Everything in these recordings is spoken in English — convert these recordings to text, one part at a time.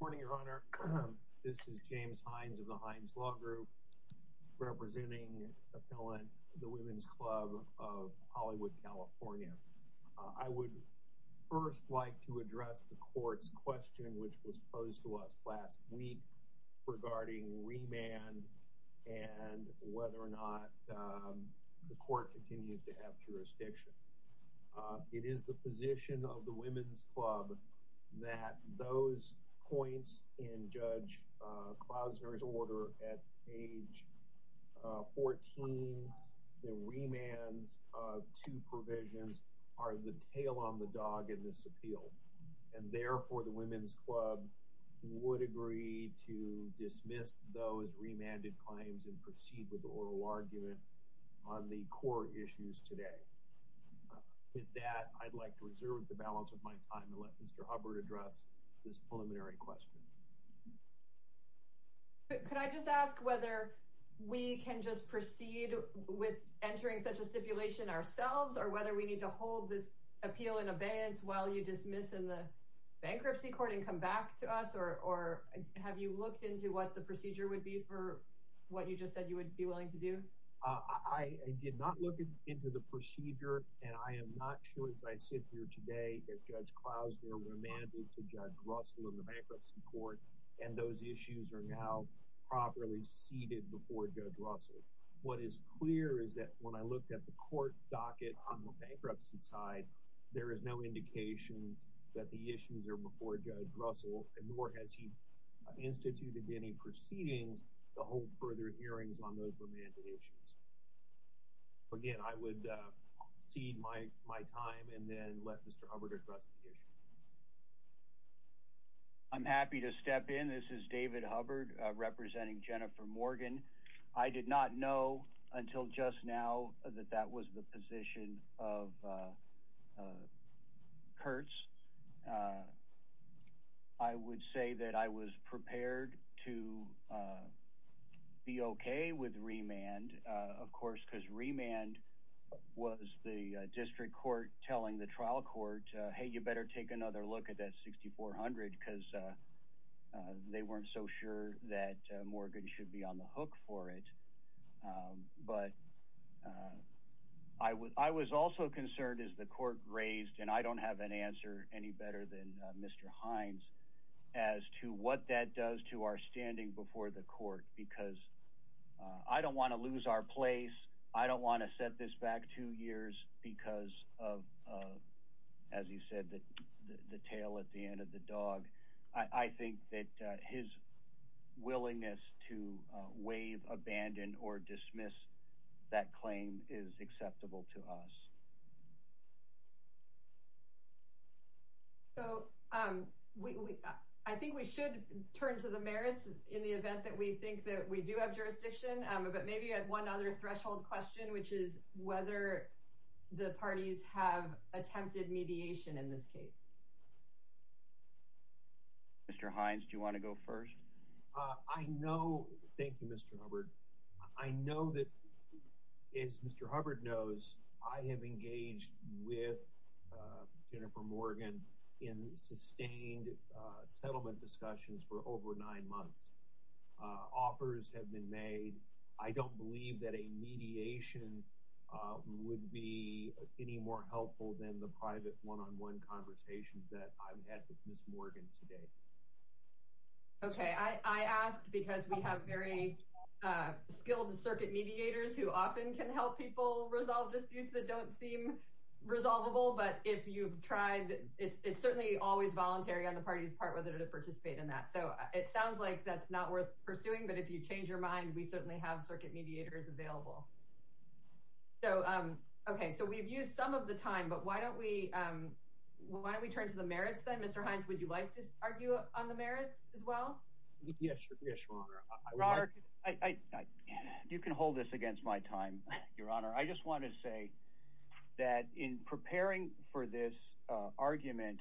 Good morning, Your Honor. This is James Hines of the Hines Law Group, representing appellant the Women's Club of Hollywood, California. I would first like to address the court's question which was posed to us last week regarding remand and whether or not the court continues to have jurisdiction. It is the position of the Women's Club that those points in Judge Klausner's order at page 14, the remands of two provisions, are the tail on the dog in this appeal. And therefore, the Women's Club would agree to dismiss those remanded claims and proceed with the oral argument on the court issues today. With that, I'd like to reserve the balance of my time and let Mr. Hubbard address this preliminary question. Could I just ask whether we can just proceed with entering such a stipulation ourselves or whether we need to hold this appeal in abeyance while you dismiss in the bankruptcy court and come back to us? Or have you looked into what the procedure would be for what you just said you would be willing to do? I did not look into the procedure and I am not sure as I sit here today if Judge Klausner remanded to Judge Russell in the bankruptcy court and those issues are now properly seated before Judge Russell. What is clear is that when I looked at the court docket on the bankruptcy side, there is no indication that the issues are before Judge Russell and nor has he instituted any proceedings to hold further hearings on those remanded issues. Again, I would cede my time and then let Mr. Hubbard address the issue. I'm happy to step in. This is David Hubbard representing Jennifer Morgan. I did not know until just now that that was the position of Kurtz. I would say that I was prepared to be okay with remand, of course, because remand was the district court telling the trial court, hey, you better take another look at that 6400 because they weren't so sure that Morgan should be on the hook for it. I was also concerned as the court raised and I don't have an answer any better than Mr. Hines as to what that does to our standing before the court because I don't want to lose our place. I don't want to set this back two willingness to waive, abandon or dismiss. That claim is acceptable to us. So I think we should turn to the merits in the event that we think that we do have jurisdiction, but maybe you had one other threshold question, which is whether the parties have attempted mediation in this case. Mr. Hines, do you want to go first? I know. Thank you, Mr. Hubbard. I know that is Mr. Hubbard knows I have engaged with Jennifer Morgan in sustained settlement discussions for over nine months. Offers have been made. I don't believe that a mediation would be any more helpful than the private one on one conversations that I've had with Miss Morgan today. OK, I asked because we have very skilled circuit mediators who often can help people resolve disputes that don't seem resolvable. But if you've tried, it's certainly always voluntary on the party's part whether to participate in that. So it sounds like that's not worth pursuing. But if you change your mind, we certainly have circuit mediators available. So, OK, so we've used some of the time, but why don't we why don't we turn to the merits? Then, Mr. Hines, would you like to argue on the merits as well? Yes. Yes. You can hold this against my time, Your Honor. I just want to say that in preparing for this argument,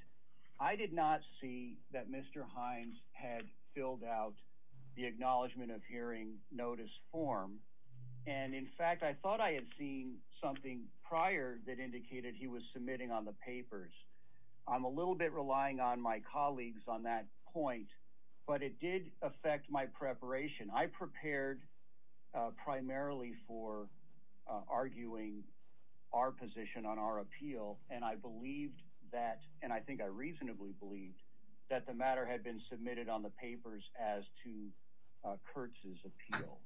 I did not see that Mr. Hines had filled out the acknowledgement of hearing notice form. And in fact, I thought I had seen something prior that indicated he was submitting on the papers. I'm a little bit relying on my colleagues on that point, but it did affect my preparation. I prepared primarily for arguing our position on our appeal, and I believed that, and I think I reasonably believed, that the matter had been submitted on the papers as to Kurtz's appeal.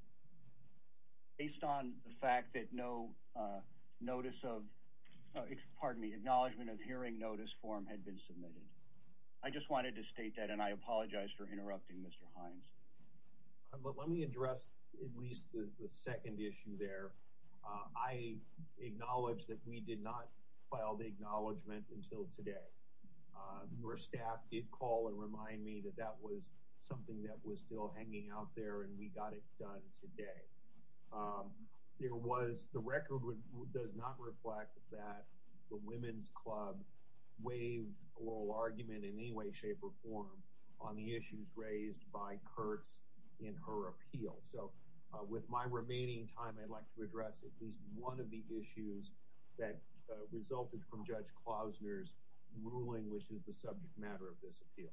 Based on the fact that no notice of, pardon me, acknowledgement of hearing notice form had been submitted. I just wanted to state that, and I apologize for interrupting Mr. Hines. Let me address at least the second issue there. I acknowledge that we did not file the acknowledgement until today. Your staff did call and remind me that that was something that was still hanging out there, and we got it done today. There was, the record does not reflect that the Women's Club waived oral argument in any way, shape, or form on the issues raised by Kurtz in her appeal. So, with my remaining time, I'd like to address at least one of the issues that resulted from Judge Klausner's ruling, which is the subject matter of this appeal.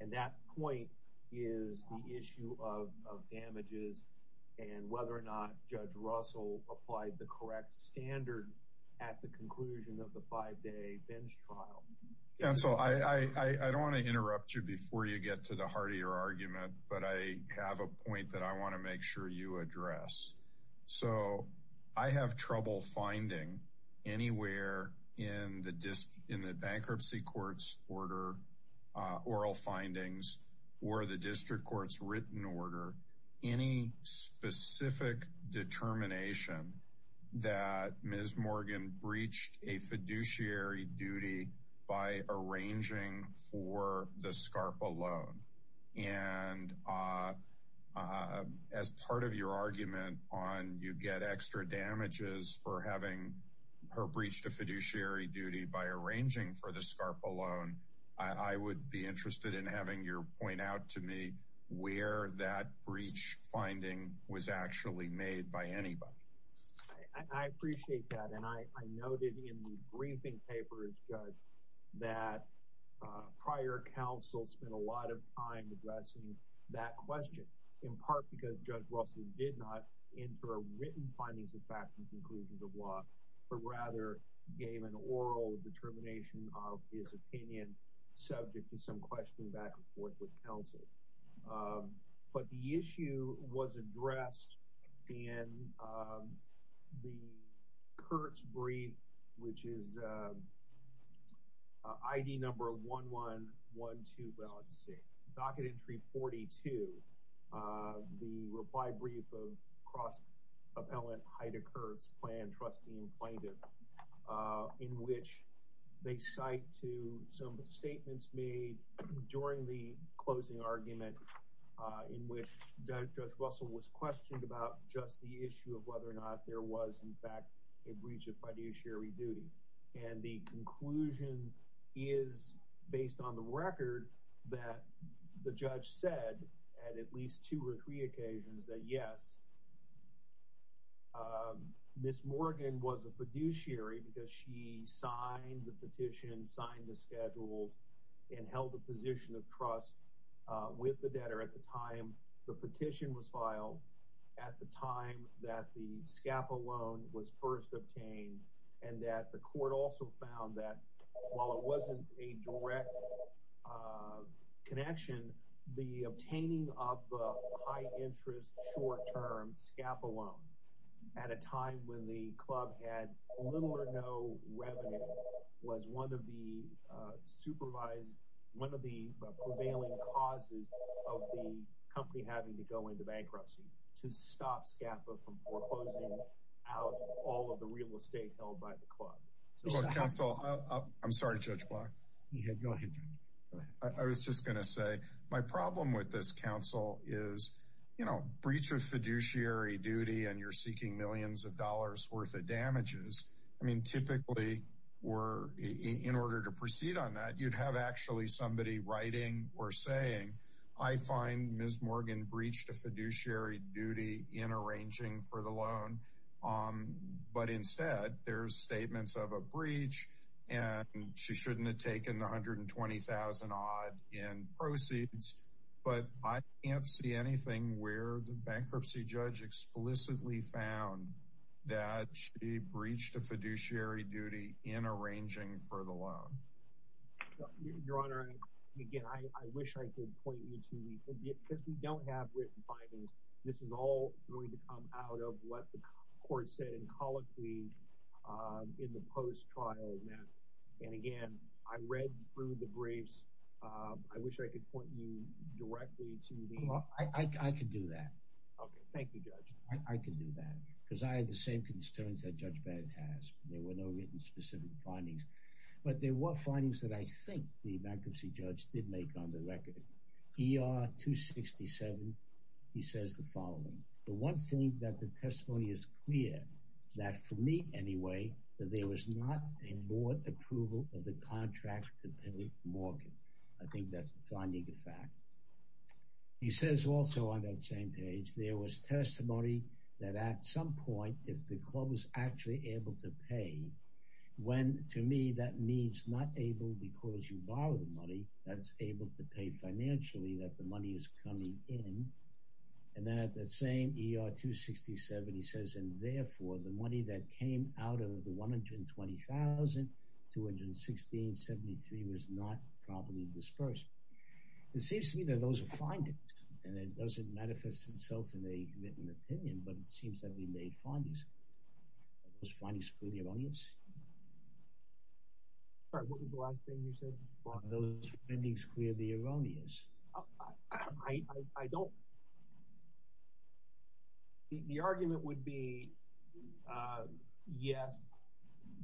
And that point is the issue of bench trial. Counsel, I don't want to interrupt you before you get to the heart of your argument, but I have a point that I want to make sure you address. So, I have trouble finding anywhere in the bankruptcy court's order, oral findings, or the district court's written order, any specific determination that Ms. Morgan breached a fiduciary duty by arranging for the SCARPA loan. And as part of your argument on you get extra damages for having her breach the fiduciary duty by arranging for the SCARPA loan, I would be interested in having your point out to me where that breach finding was actually made by anybody. I appreciate that, and I noted in the briefing papers, Judge, that prior counsel spent a lot of time addressing that question, in part because Judge Russell did not enter written findings of fact and conclusions of law, but rather gave an oral determination of his opinion subject to some questioning back and forth with counsel. But the issue was addressed in the Kurtz brief, which is ID number 11126, docket entry 42, the reply brief of cross-appellant Heidecker's plan trustee and plaintiff, in which they cite to some statements made during the closing argument in which Judge Russell was questioned about just the issue of whether or not there was, in fact, a breach of fiduciary duty. And the conclusion is, based on the record, that the judge said at at least two or three occasions that yes, Ms. Morgan was a fiduciary because she signed the petition, signed the schedules, and held a position of trust with the debtor at the time the petition was filed, at the time that the SCARPA loan was first obtained, and that the court also found that while it wasn't a direct connection, the obtaining of a high-interest short-term SCARPA loan at a time when the club had little or no revenue was one of the supervised, one of the prevailing causes of the company having to go into bankruptcy to stop SCARPA from foreclosing out all of the real estate held by the club. Counsel, I'm sorry, Judge Block. Yeah, go ahead. I was just going to say my problem with this, counsel, is, you know, breach of fiduciary duty and you're seeking millions of dollars worth of damages. I mean, typically, we're, in order to proceed on that, you'd have actually somebody writing or saying, I find Ms. Morgan breached a fiduciary duty in arranging for the loan, but instead there's statements of a breach and she shouldn't have taken the 120,000 odd in proceeds, but I can't see anything where the bankruptcy judge explicitly found that she breached a fiduciary duty in arranging for the loan. Your Honor, again, I wish I could point you to the, because we don't have written findings, this is all going to come out of what the court said in colloquy in the post-trial. And again, I read through the briefs. I wish I could point you directly to the... Well, I could do that. Okay, thank you, Judge. I could do that because I had the same concerns that Judge Bannon has. There were no written specific findings, but there were findings that I think the bankruptcy judge did make on the record. ER-267, he says the following. The one thing that the testimony is clear, that for me, anyway, that there was not a board approval of the contract to pay Morgan. I think that's a finding in fact. He says also on that same page, there was testimony that at some point, if the club was actually able to pay, when to me that means not able because you borrowed the able to pay financially, that the money is coming in. And then at the same ER-267, he says, and therefore the money that came out of the $120,000, $216,073 was not properly dispersed. It seems to me that those are findings and it doesn't manifest itself in a written opinion, but it seems that we made findings. Are those findings for the audience? Sorry, what was the last thing you said? Are those findings clearly erroneous? I don't. The argument would be, yes,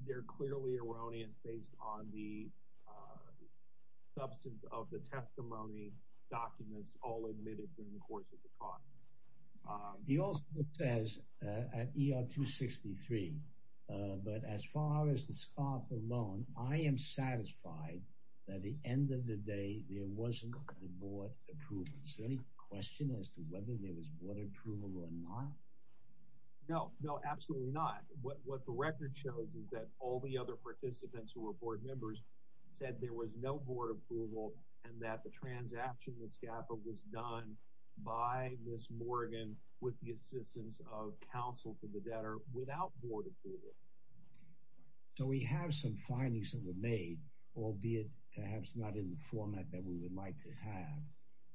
they're clearly erroneous based on the substance of the testimony documents all admitted during the course of the trial. He also says at ER-263, but as far as the scarf alone, I am satisfied that at the end of the day, there wasn't a board approval. Is there any question as to whether there was board approval or not? No, no, absolutely not. What the record shows is that all the other participants who were board members said there was no board approval and that the transaction with SCAPA was done by Ms. Morgan with the assistance of counsel for the debtor without board approval. So we have some findings that were made, albeit perhaps not in the format that we would like to have,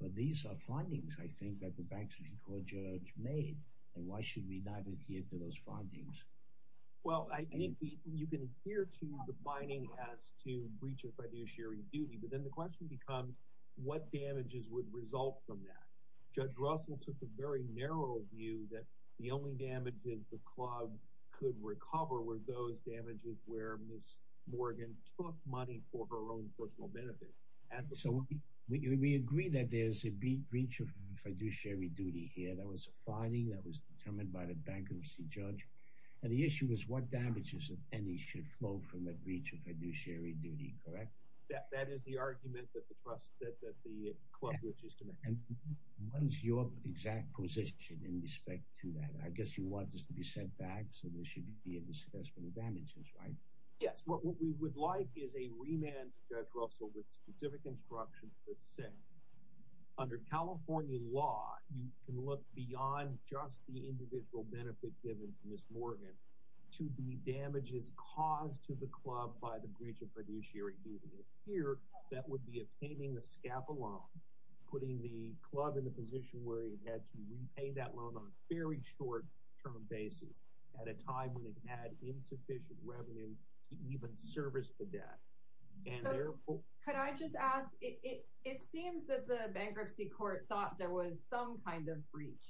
but these are findings, I think, that the bankruptcy court judge made, and why should we not adhere to those findings? Well, I think you can adhere to the binding as to breach of fiduciary duty, but then the question becomes, what damages would result from that? Judge Russell took a very narrow view that the only damages the club could recover were those damages where Ms. Morgan took money for her own personal benefit. So we agree that there's a breach of fiduciary duty here. That was a finding that was determined by the bankruptcy judge, and the issue is what damages, if any, should flow from a breach of fiduciary duty, correct? That is the argument that the club was just to make. And what is your exact position in respect to that? I guess you want this to be set back, so there should be a discussion of damages, right? Yes. What we would like is a remand to Judge Russell with specific instructions that say, under California law, you can look beyond just the individual benefit given to Ms. Morgan to the damages caused to the club by the breach of fiduciary duty. Here, that would be obtaining the SCAPA loan, putting the club in the position where it had to repay that loan on a very short term basis at a time when it had insufficient revenue to even service the debt. Could I just ask, it seems that the bankruptcy court thought there was some kind of breach,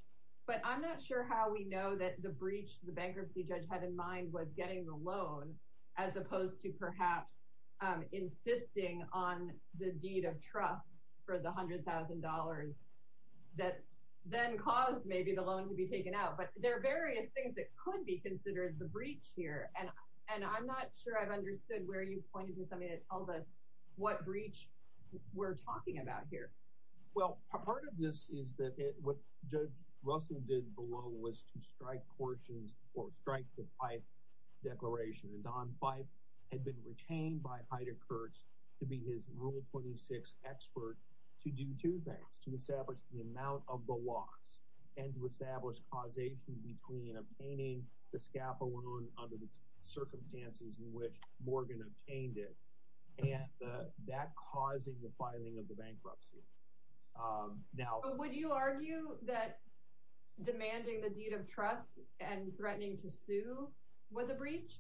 but I'm not sure how we know that the breach the bankruptcy judge had in mind was getting the loan as opposed to perhaps insisting on the deed of trust for the $100,000 that then caused maybe the loan to be taken out. But there are various things that could be considered the breach here, and I'm not sure I've understood where you pointed to something that tells us what breach we're talking about here. Well, part of this is that what Judge Russell did below was to strike portions or strike the Pipe Declaration. And Don Pipe had been retained by Heider Kurtz to be his Rule 26 expert to do two things, to establish the amount of the loss and to establish causation between obtaining the SCAPA loan under the circumstances in which Morgan obtained it and that causing the filing of the bankruptcy. Would you argue that demanding the deed of trust and threatening to sue was a breach?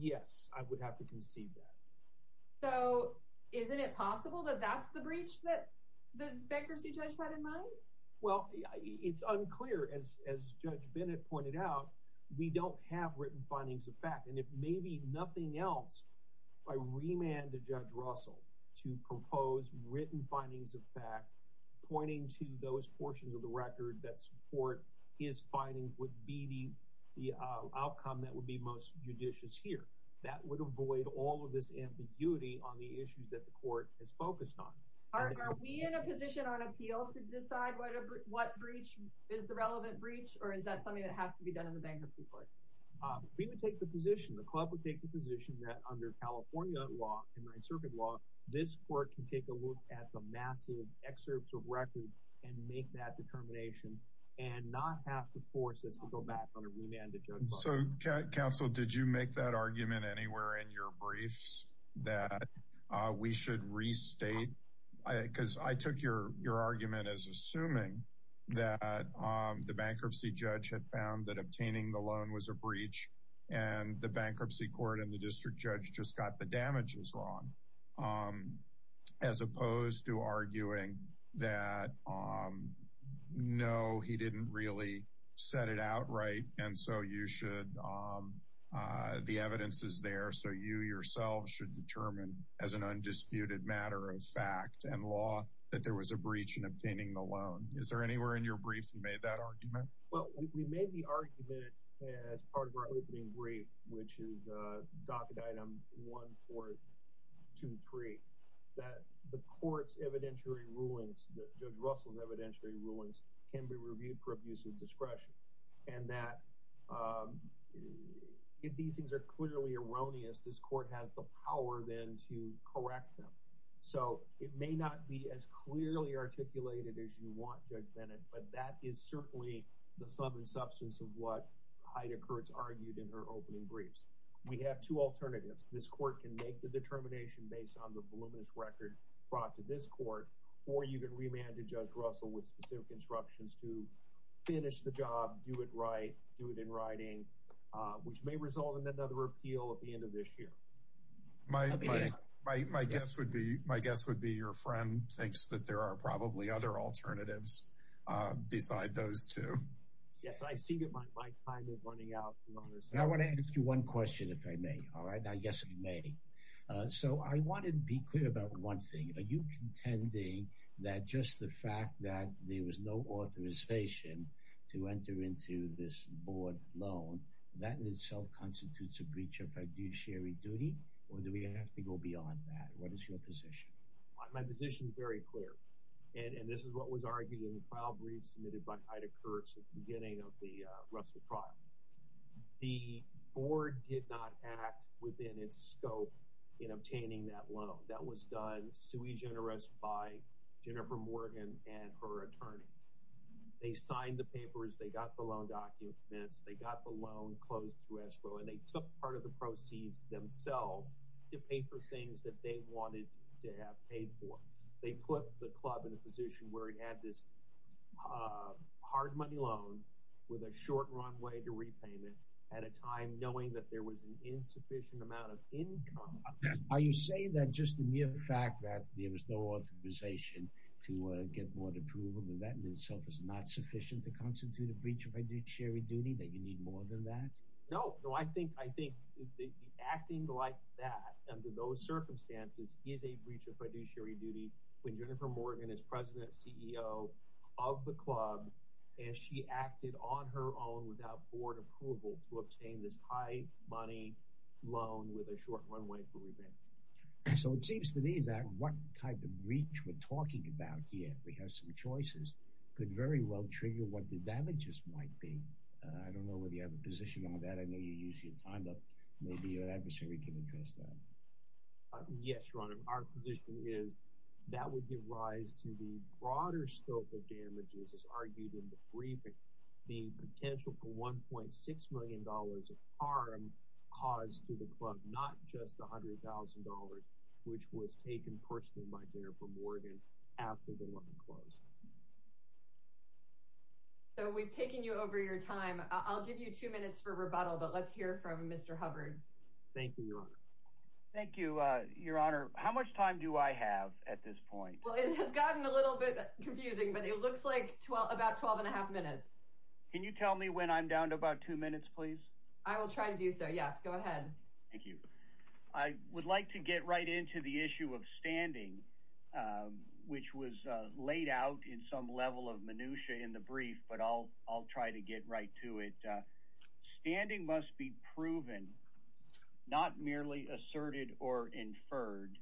Yes, I would have to conceive that. So isn't it possible that that's the breach that the bankruptcy judge had in mind? Well, it's unclear. As Judge Bennett pointed out, we don't have written findings of fact. And if maybe nothing else, I remand to Judge Russell to propose written findings of fact pointing to those portions of the record that support his findings would be the outcome that would be most judicious here. That would avoid all of this ambiguity on the issues that the court has focused on. Are we in a position on appeal to decide what breach is the relevant breach? Or is that something that has to be done in the bankruptcy court? We would take the position, the club would take the position that under California law and 9th Circuit law, this court can take a look at the massive excerpts of records and make that determination and not have to force us to go back on a remand to Judge Russell. So counsel, did you make that argument anywhere in your briefs that we should restate? Because I took your argument as assuming that the bankruptcy judge had found that obtaining the loan was a breach and the bankruptcy court and the district judge just got the damages wrong. As opposed to arguing that, no, he didn't really set it out right. And so you should, the evidence is there. So you yourself should determine as an undisputed matter of fact and law that there was a breach in obtaining the loan. Is there anywhere in your briefs you made that argument? Well, we made the argument as part of our opening brief, which is docket item 1423, that the court's evidentiary rulings, Judge Russell's evidentiary rulings can be reviewed for abuse of discretion. And that if these things are clearly erroneous, this court has the power then to correct them. So it may not be as clearly articulated as you want Judge Bennett, but that is certainly the sum and substance of what Heida Kurtz argued in her opening briefs. We have two alternatives. This court can make the determination based on the voluminous record brought to this court, or you can remand to Judge Russell with specific instructions to finish the job, do it right, do it in writing, which may result in another appeal at the end of this year. My guess would be your friend thinks that there are probably other alternatives beside those two. Yes, I see that my time is running out. I want to ask you one question if I may, all right? Now, yes, you may. So I wanted to be clear about one thing. Are you contending that just the fact that there was no authorization to enter into this board loan, that in itself constitutes a breach of fiduciary duty, or do we have to go beyond that? What is your position? My position is very clear. And this is what was argued in the trial briefs submitted by Heida Kurtz at the beginning of the Russell trial. The board did not act within its scope in obtaining that loan. That was done sui generis by Jennifer Morgan and her attorney. They signed the papers, they got the loan documents, they got the loan closed through escrow, and they took part of the proceeds themselves to pay for things that they wanted to have paid for. They put the club in a position where it had this hard money loan with a short runway to repayment at a time knowing that there was an insufficient amount of income. Are you saying that just the mere fact that there was no authorization to get board approval and that in itself is not sufficient to constitute a breach of fiduciary duty, that you need more than that? No. No, I think acting like that under those circumstances is a breach of fiduciary duty when Jennifer Morgan is president CEO of the club and she acted on her own without board approval to obtain this high money loan with a short reach we're talking about here. We have some choices could very well trigger what the damages might be. I don't know whether you have a position on that. I know you use your time, but maybe your adversary can address that. Yes, your honor. Our position is that would give rise to the broader scope of damages as argued in the briefing. The potential for 1.6 million dollars of harm caused to the club, not just a hundred thousand dollars, which was taken personally by Jennifer Morgan after the loan closed. So we've taken you over your time. I'll give you two minutes for rebuttal, but let's hear from Mr. Hubbard. Thank you, your honor. Thank you, your honor. How much time do I have at this point? Well, it has gotten a little bit confusing, but it looks like about 12 and a half minutes. Can you tell me when I'm down to about two minutes, please? I will try to do so. Yes, go ahead. Thank you. I would like to get right into the issue of standing, which was laid out in some level of minutiae in the brief, but I'll try to get right to it. Standing must be proven, not merely asserted or inferred,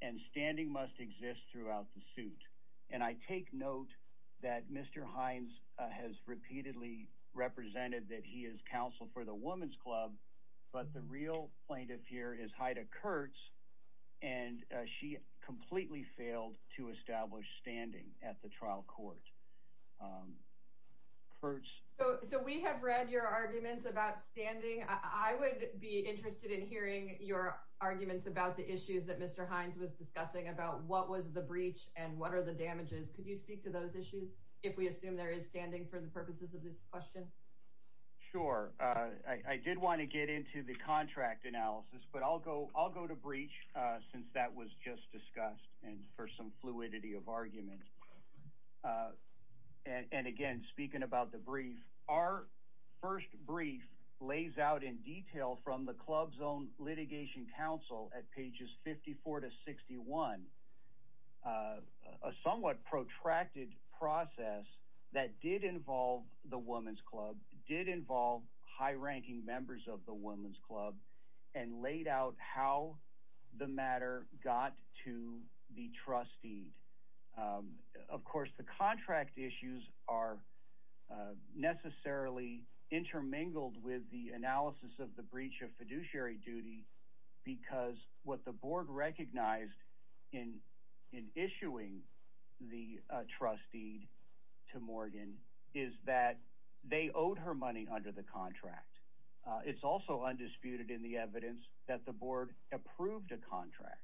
and standing must exist throughout the suit. And I take note that Mr. Hines has repeatedly represented that he is counsel for the Women's Club, but the real plaintiff here is Heida Kurtz, and she completely failed to establish standing at the trial court. Kurtz? So we have read your arguments about standing. I would be interested in hearing your arguments about the issues that Mr. Hines was discussing about what was the breach and what are the damages. Could you speak to those issues if we assume there is standing for the purposes of this question? Sure. I did want to get into the contract analysis, but I'll go to breach since that was just discussed and for some fluidity of argument. And again, speaking about the brief, our first brief lays out in detail from the a somewhat protracted process that did involve the Women's Club, did involve high-ranking members of the Women's Club, and laid out how the matter got to the trustee. Of course, the contract issues are necessarily intermingled with the analysis of the breach of fiduciary duty because what the board recognized in issuing the trustee to Morgan is that they owed her money under the contract. It's also undisputed in the evidence that the board approved a contract,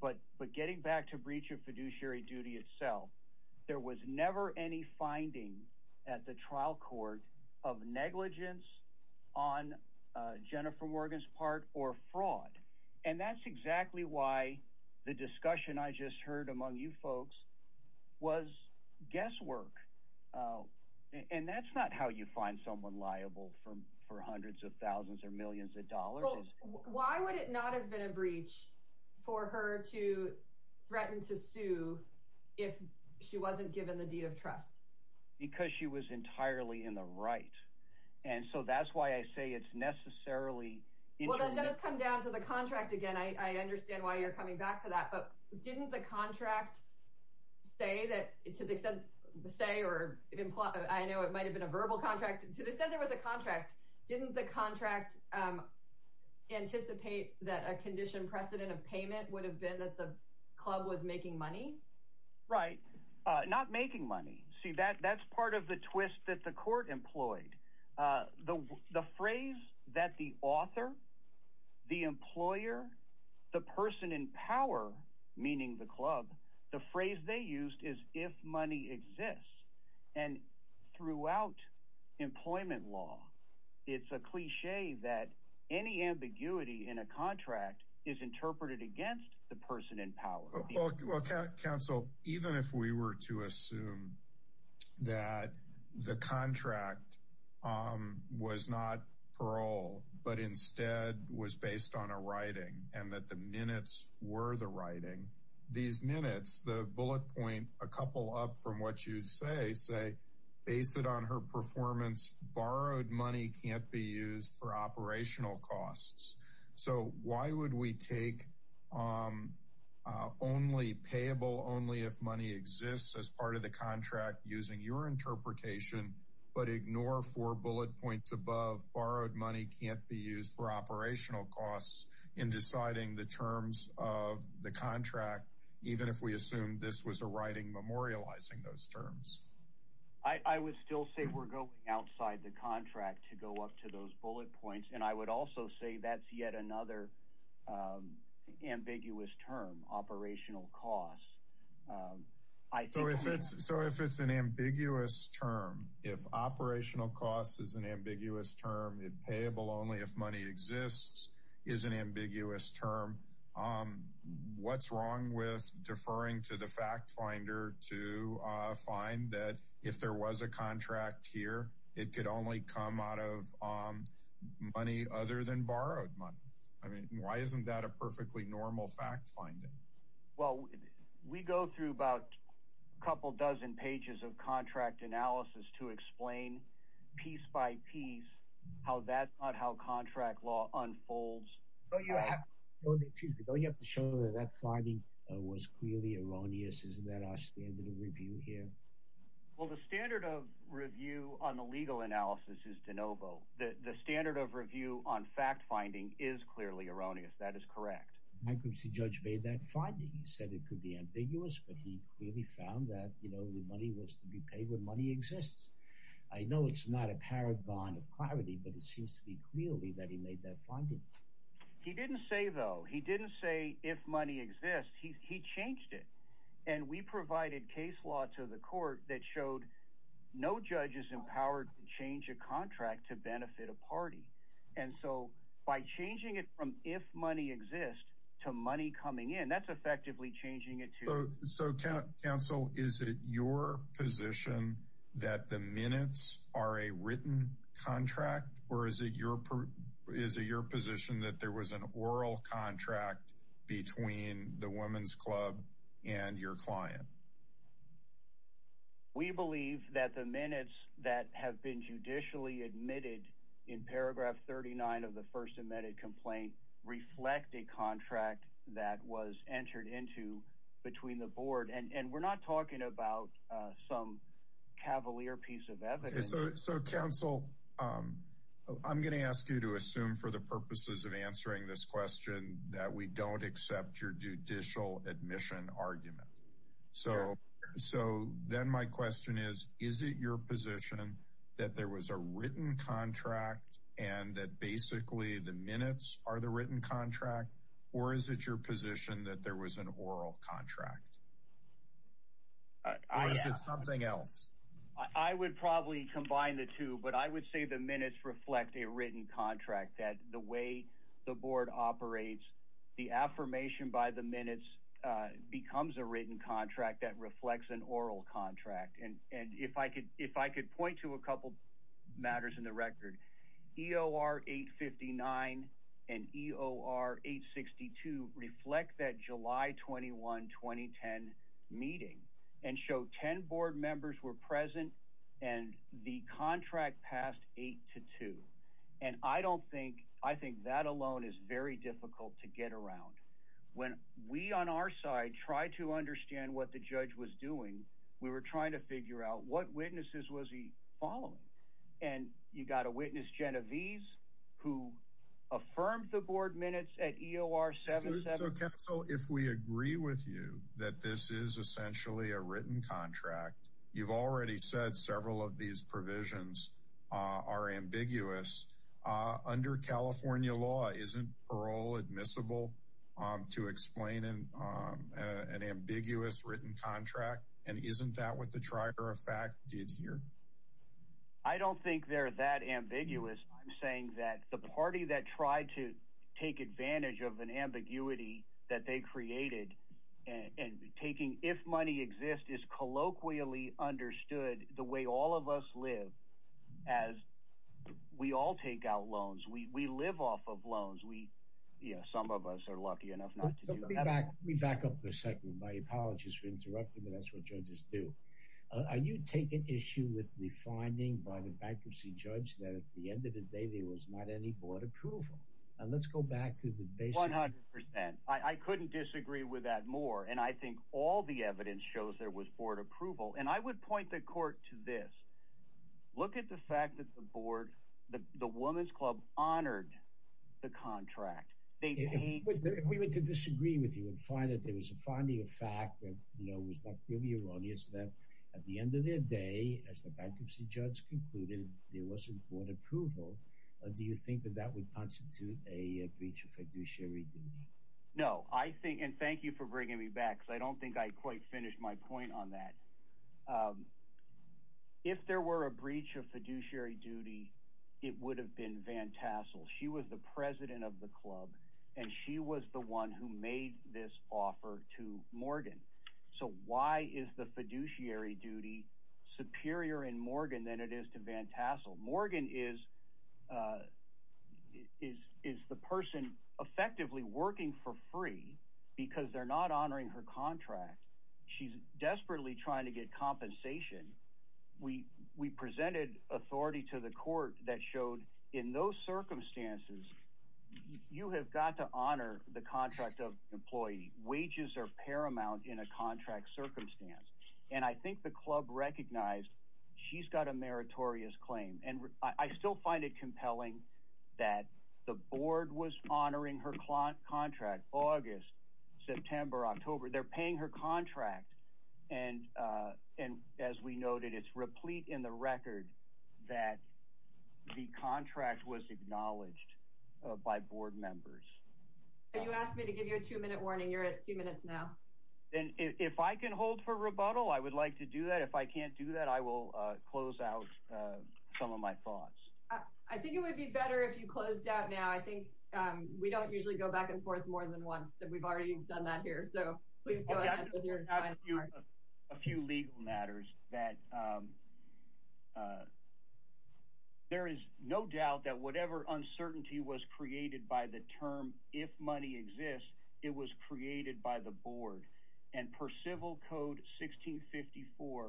but getting back to breach of fiduciary duty itself, there was never any finding at the trial court of negligence on Jennifer Morgan's part or fraud. And that's exactly why the discussion I just heard among you folks was guesswork. And that's not how you find someone liable for hundreds of thousands or millions of dollars. Why would it not have been a breach for her to in the right? And so that's why I say it's necessarily intermingled. Well, that does come down to the contract again. I understand why you're coming back to that. But didn't the contract say that, to the extent, say or imply, I know it might have been a verbal contract, to the extent there was a contract, didn't the contract anticipate that a condition precedent of payment would have been that the club was making money? Right. Not making money. See, that's part of the twist that the court employed. The phrase that the author, the employer, the person in power, meaning the club, the phrase they used is if money exists. And throughout employment law, it's a cliche that any ambiguity in a contract is interpreted against the person in power. Counsel, even if we were to assume that the contract was not parole, but instead was based on a writing and that the minutes were the writing, these minutes, the bullet point, a couple up from what you say, say based on her performance, borrowed money can't be used for operational costs. So why would we take only payable only if money exists as part of the contract using your interpretation, but ignore four bullet points above borrowed money can't be used for operational costs in deciding the terms of the contract, even if we assume this was a writing memorializing those terms. I would still say we're going outside the bullet points. And I would also say that's yet another ambiguous term, operational costs. So if it's an ambiguous term, if operational costs is an ambiguous term, if payable only, if money exists, is an ambiguous term. What's wrong with deferring to the fact finder to find that if there was a contract here, it could only come out of money other than borrowed money? I mean, why isn't that a perfectly normal fact finding? Well, we go through about a couple dozen pages of contract analysis to explain piece by piece how that how contract law unfolds. Don't you have to show that that finding was clearly erroneous? Isn't that our standard of review here? Well, the standard of review on the legal analysis is de novo. The standard of review on fact finding is clearly erroneous. That is correct. My group's judge made that finding. He said it could be ambiguous, but he clearly found that, you know, the money was to be paid when money exists. I know it's not a paragon of clarity, but it seems to be clearly that he made that finding. He didn't say, though. He didn't say if money exists, he changed it. And we provided case law to the court that showed no judges empowered to change a contract to benefit a party. And so by changing it from if money exists to money coming in, that's effectively changing it. So counsel, is it your position that the minutes are a written contract or is it your position that there was an oral contract between the women's club and your client? We believe that the minutes that have been judicially admitted in paragraph 39 of the and we're not talking about some cavalier piece of evidence. So counsel, I'm going to ask you to assume for the purposes of answering this question that we don't accept your judicial admission argument. So so then my question is, is it your position that there was a written contract and that basically the minutes are the written contract or is it your position that there was an oral contract? Or is it something else? I would probably combine the two, but I would say the minutes reflect a written contract that the way the board operates, the affirmation by the minutes becomes a written contract that reflects an oral contract. And and if I could if I could point to a couple matters in the record, EOR 859 and EOR 862 reflect that July 21, 2010 meeting and show 10 board members were present and the contract passed 8 to 2. And I don't think, I think that alone is very difficult to get around. When we on our side try to understand what the judge was doing, we were trying to figure out what witnesses was he following. And you got to witness Genovese, who affirmed the board minutes at EOR 77. So if we agree with you that this is essentially a written contract, you've already said several of these provisions are ambiguous. Under California law, isn't parole admissible to explain an ambiguous written contract? And isn't that what the trier of fact did here? I don't think they're that ambiguous. I'm saying that the party that tried to take advantage of an ambiguity that they created and taking if money exists is colloquially understood the way all of us live. As we all take out loans, we live off of loans. We, you know, some of us are lucky enough not to be back. We back up for a second. My apologies for interrupting, but that's what judges do. Are you taking issue with the finding by the bankruptcy judge that at the end of the day, there was not any board approval? And let's go back to the basic 100%. I couldn't disagree with that more. And I think all the evidence shows there was board approval. And I would point the court to this. Look at the fact that the board, the women's club honored the contract. If we were to disagree with you and find that there was a finding of fact that, you know, was not really erroneous that at the end of their day, as the bankruptcy judge concluded, there wasn't board approval. Do you think that that would constitute a breach of fiduciary duty? No, I think, and thank you for bringing me back, I don't think I quite finished my point on that. If there were a breach of fiduciary duty, it would have been Van Tassel. She was the president of the club and she was the one who made this offer to Morgan. So why is the fiduciary duty superior in Morgan than it is to Van Tassel? Morgan is the person effectively working for free because they're not honoring her contract. She's desperately trying to get compensation. We presented authority to the court that showed in those circumstances, you have got to honor the contract of employee. Wages are paramount in a contract circumstance. And I think the club recognized she's got a meritorious claim. I still find it compelling that the board was honoring her contract, August, September, October, they're paying her contract. And as we noted, it's replete in the record that the contract was acknowledged by board members. You asked me to give you a two-minute warning. You're at two minutes now. And if I can hold for rebuttal, I would like to do that. If I can. I think it would be better if you closed out now. I think we don't usually go back and forth more than once. And we've already done that here. So please go ahead. A few legal matters that there is no doubt that whatever uncertainty was created by the term, if money exists, it was created by the board and per civil code 1654,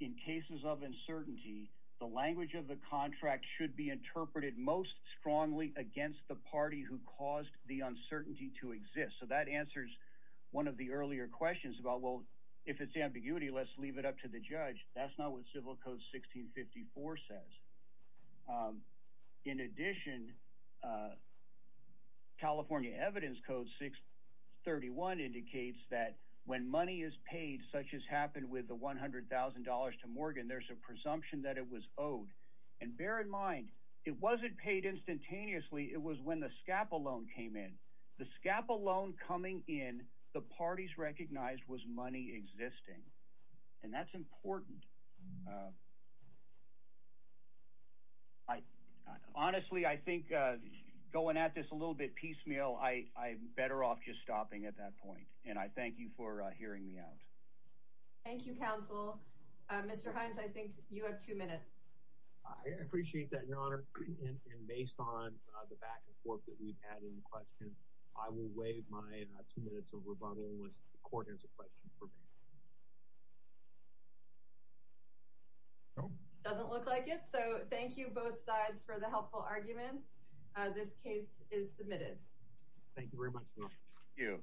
in cases of uncertainty, the language of the contract should be interpreted most strongly against the party who caused the uncertainty to exist. So that answers one of the earlier questions about, well, if it's ambiguity, let's leave it up to the judge. That's not what civil code 1654 says. In addition, California evidence code 631 indicates that when money is paid, such as it was owed. And bear in mind, it wasn't paid instantaneously. It was when the SCAPA loan came in. The SCAPA loan coming in, the parties recognized was money existing. And that's important. Honestly, I think going at this a little bit piecemeal, I'm better off just stopping at that point. And I thank you for hearing me out. Thank you, counsel. Mr. Hines, I think you have two minutes. I appreciate that, Your Honor. And based on the back and forth that we've had in questions, I will waive my two minutes of rebuttal unless the court has a question for me. Doesn't look like it. So thank you both sides for the helpful arguments. This case is submitted. Thank you very much. Thank you.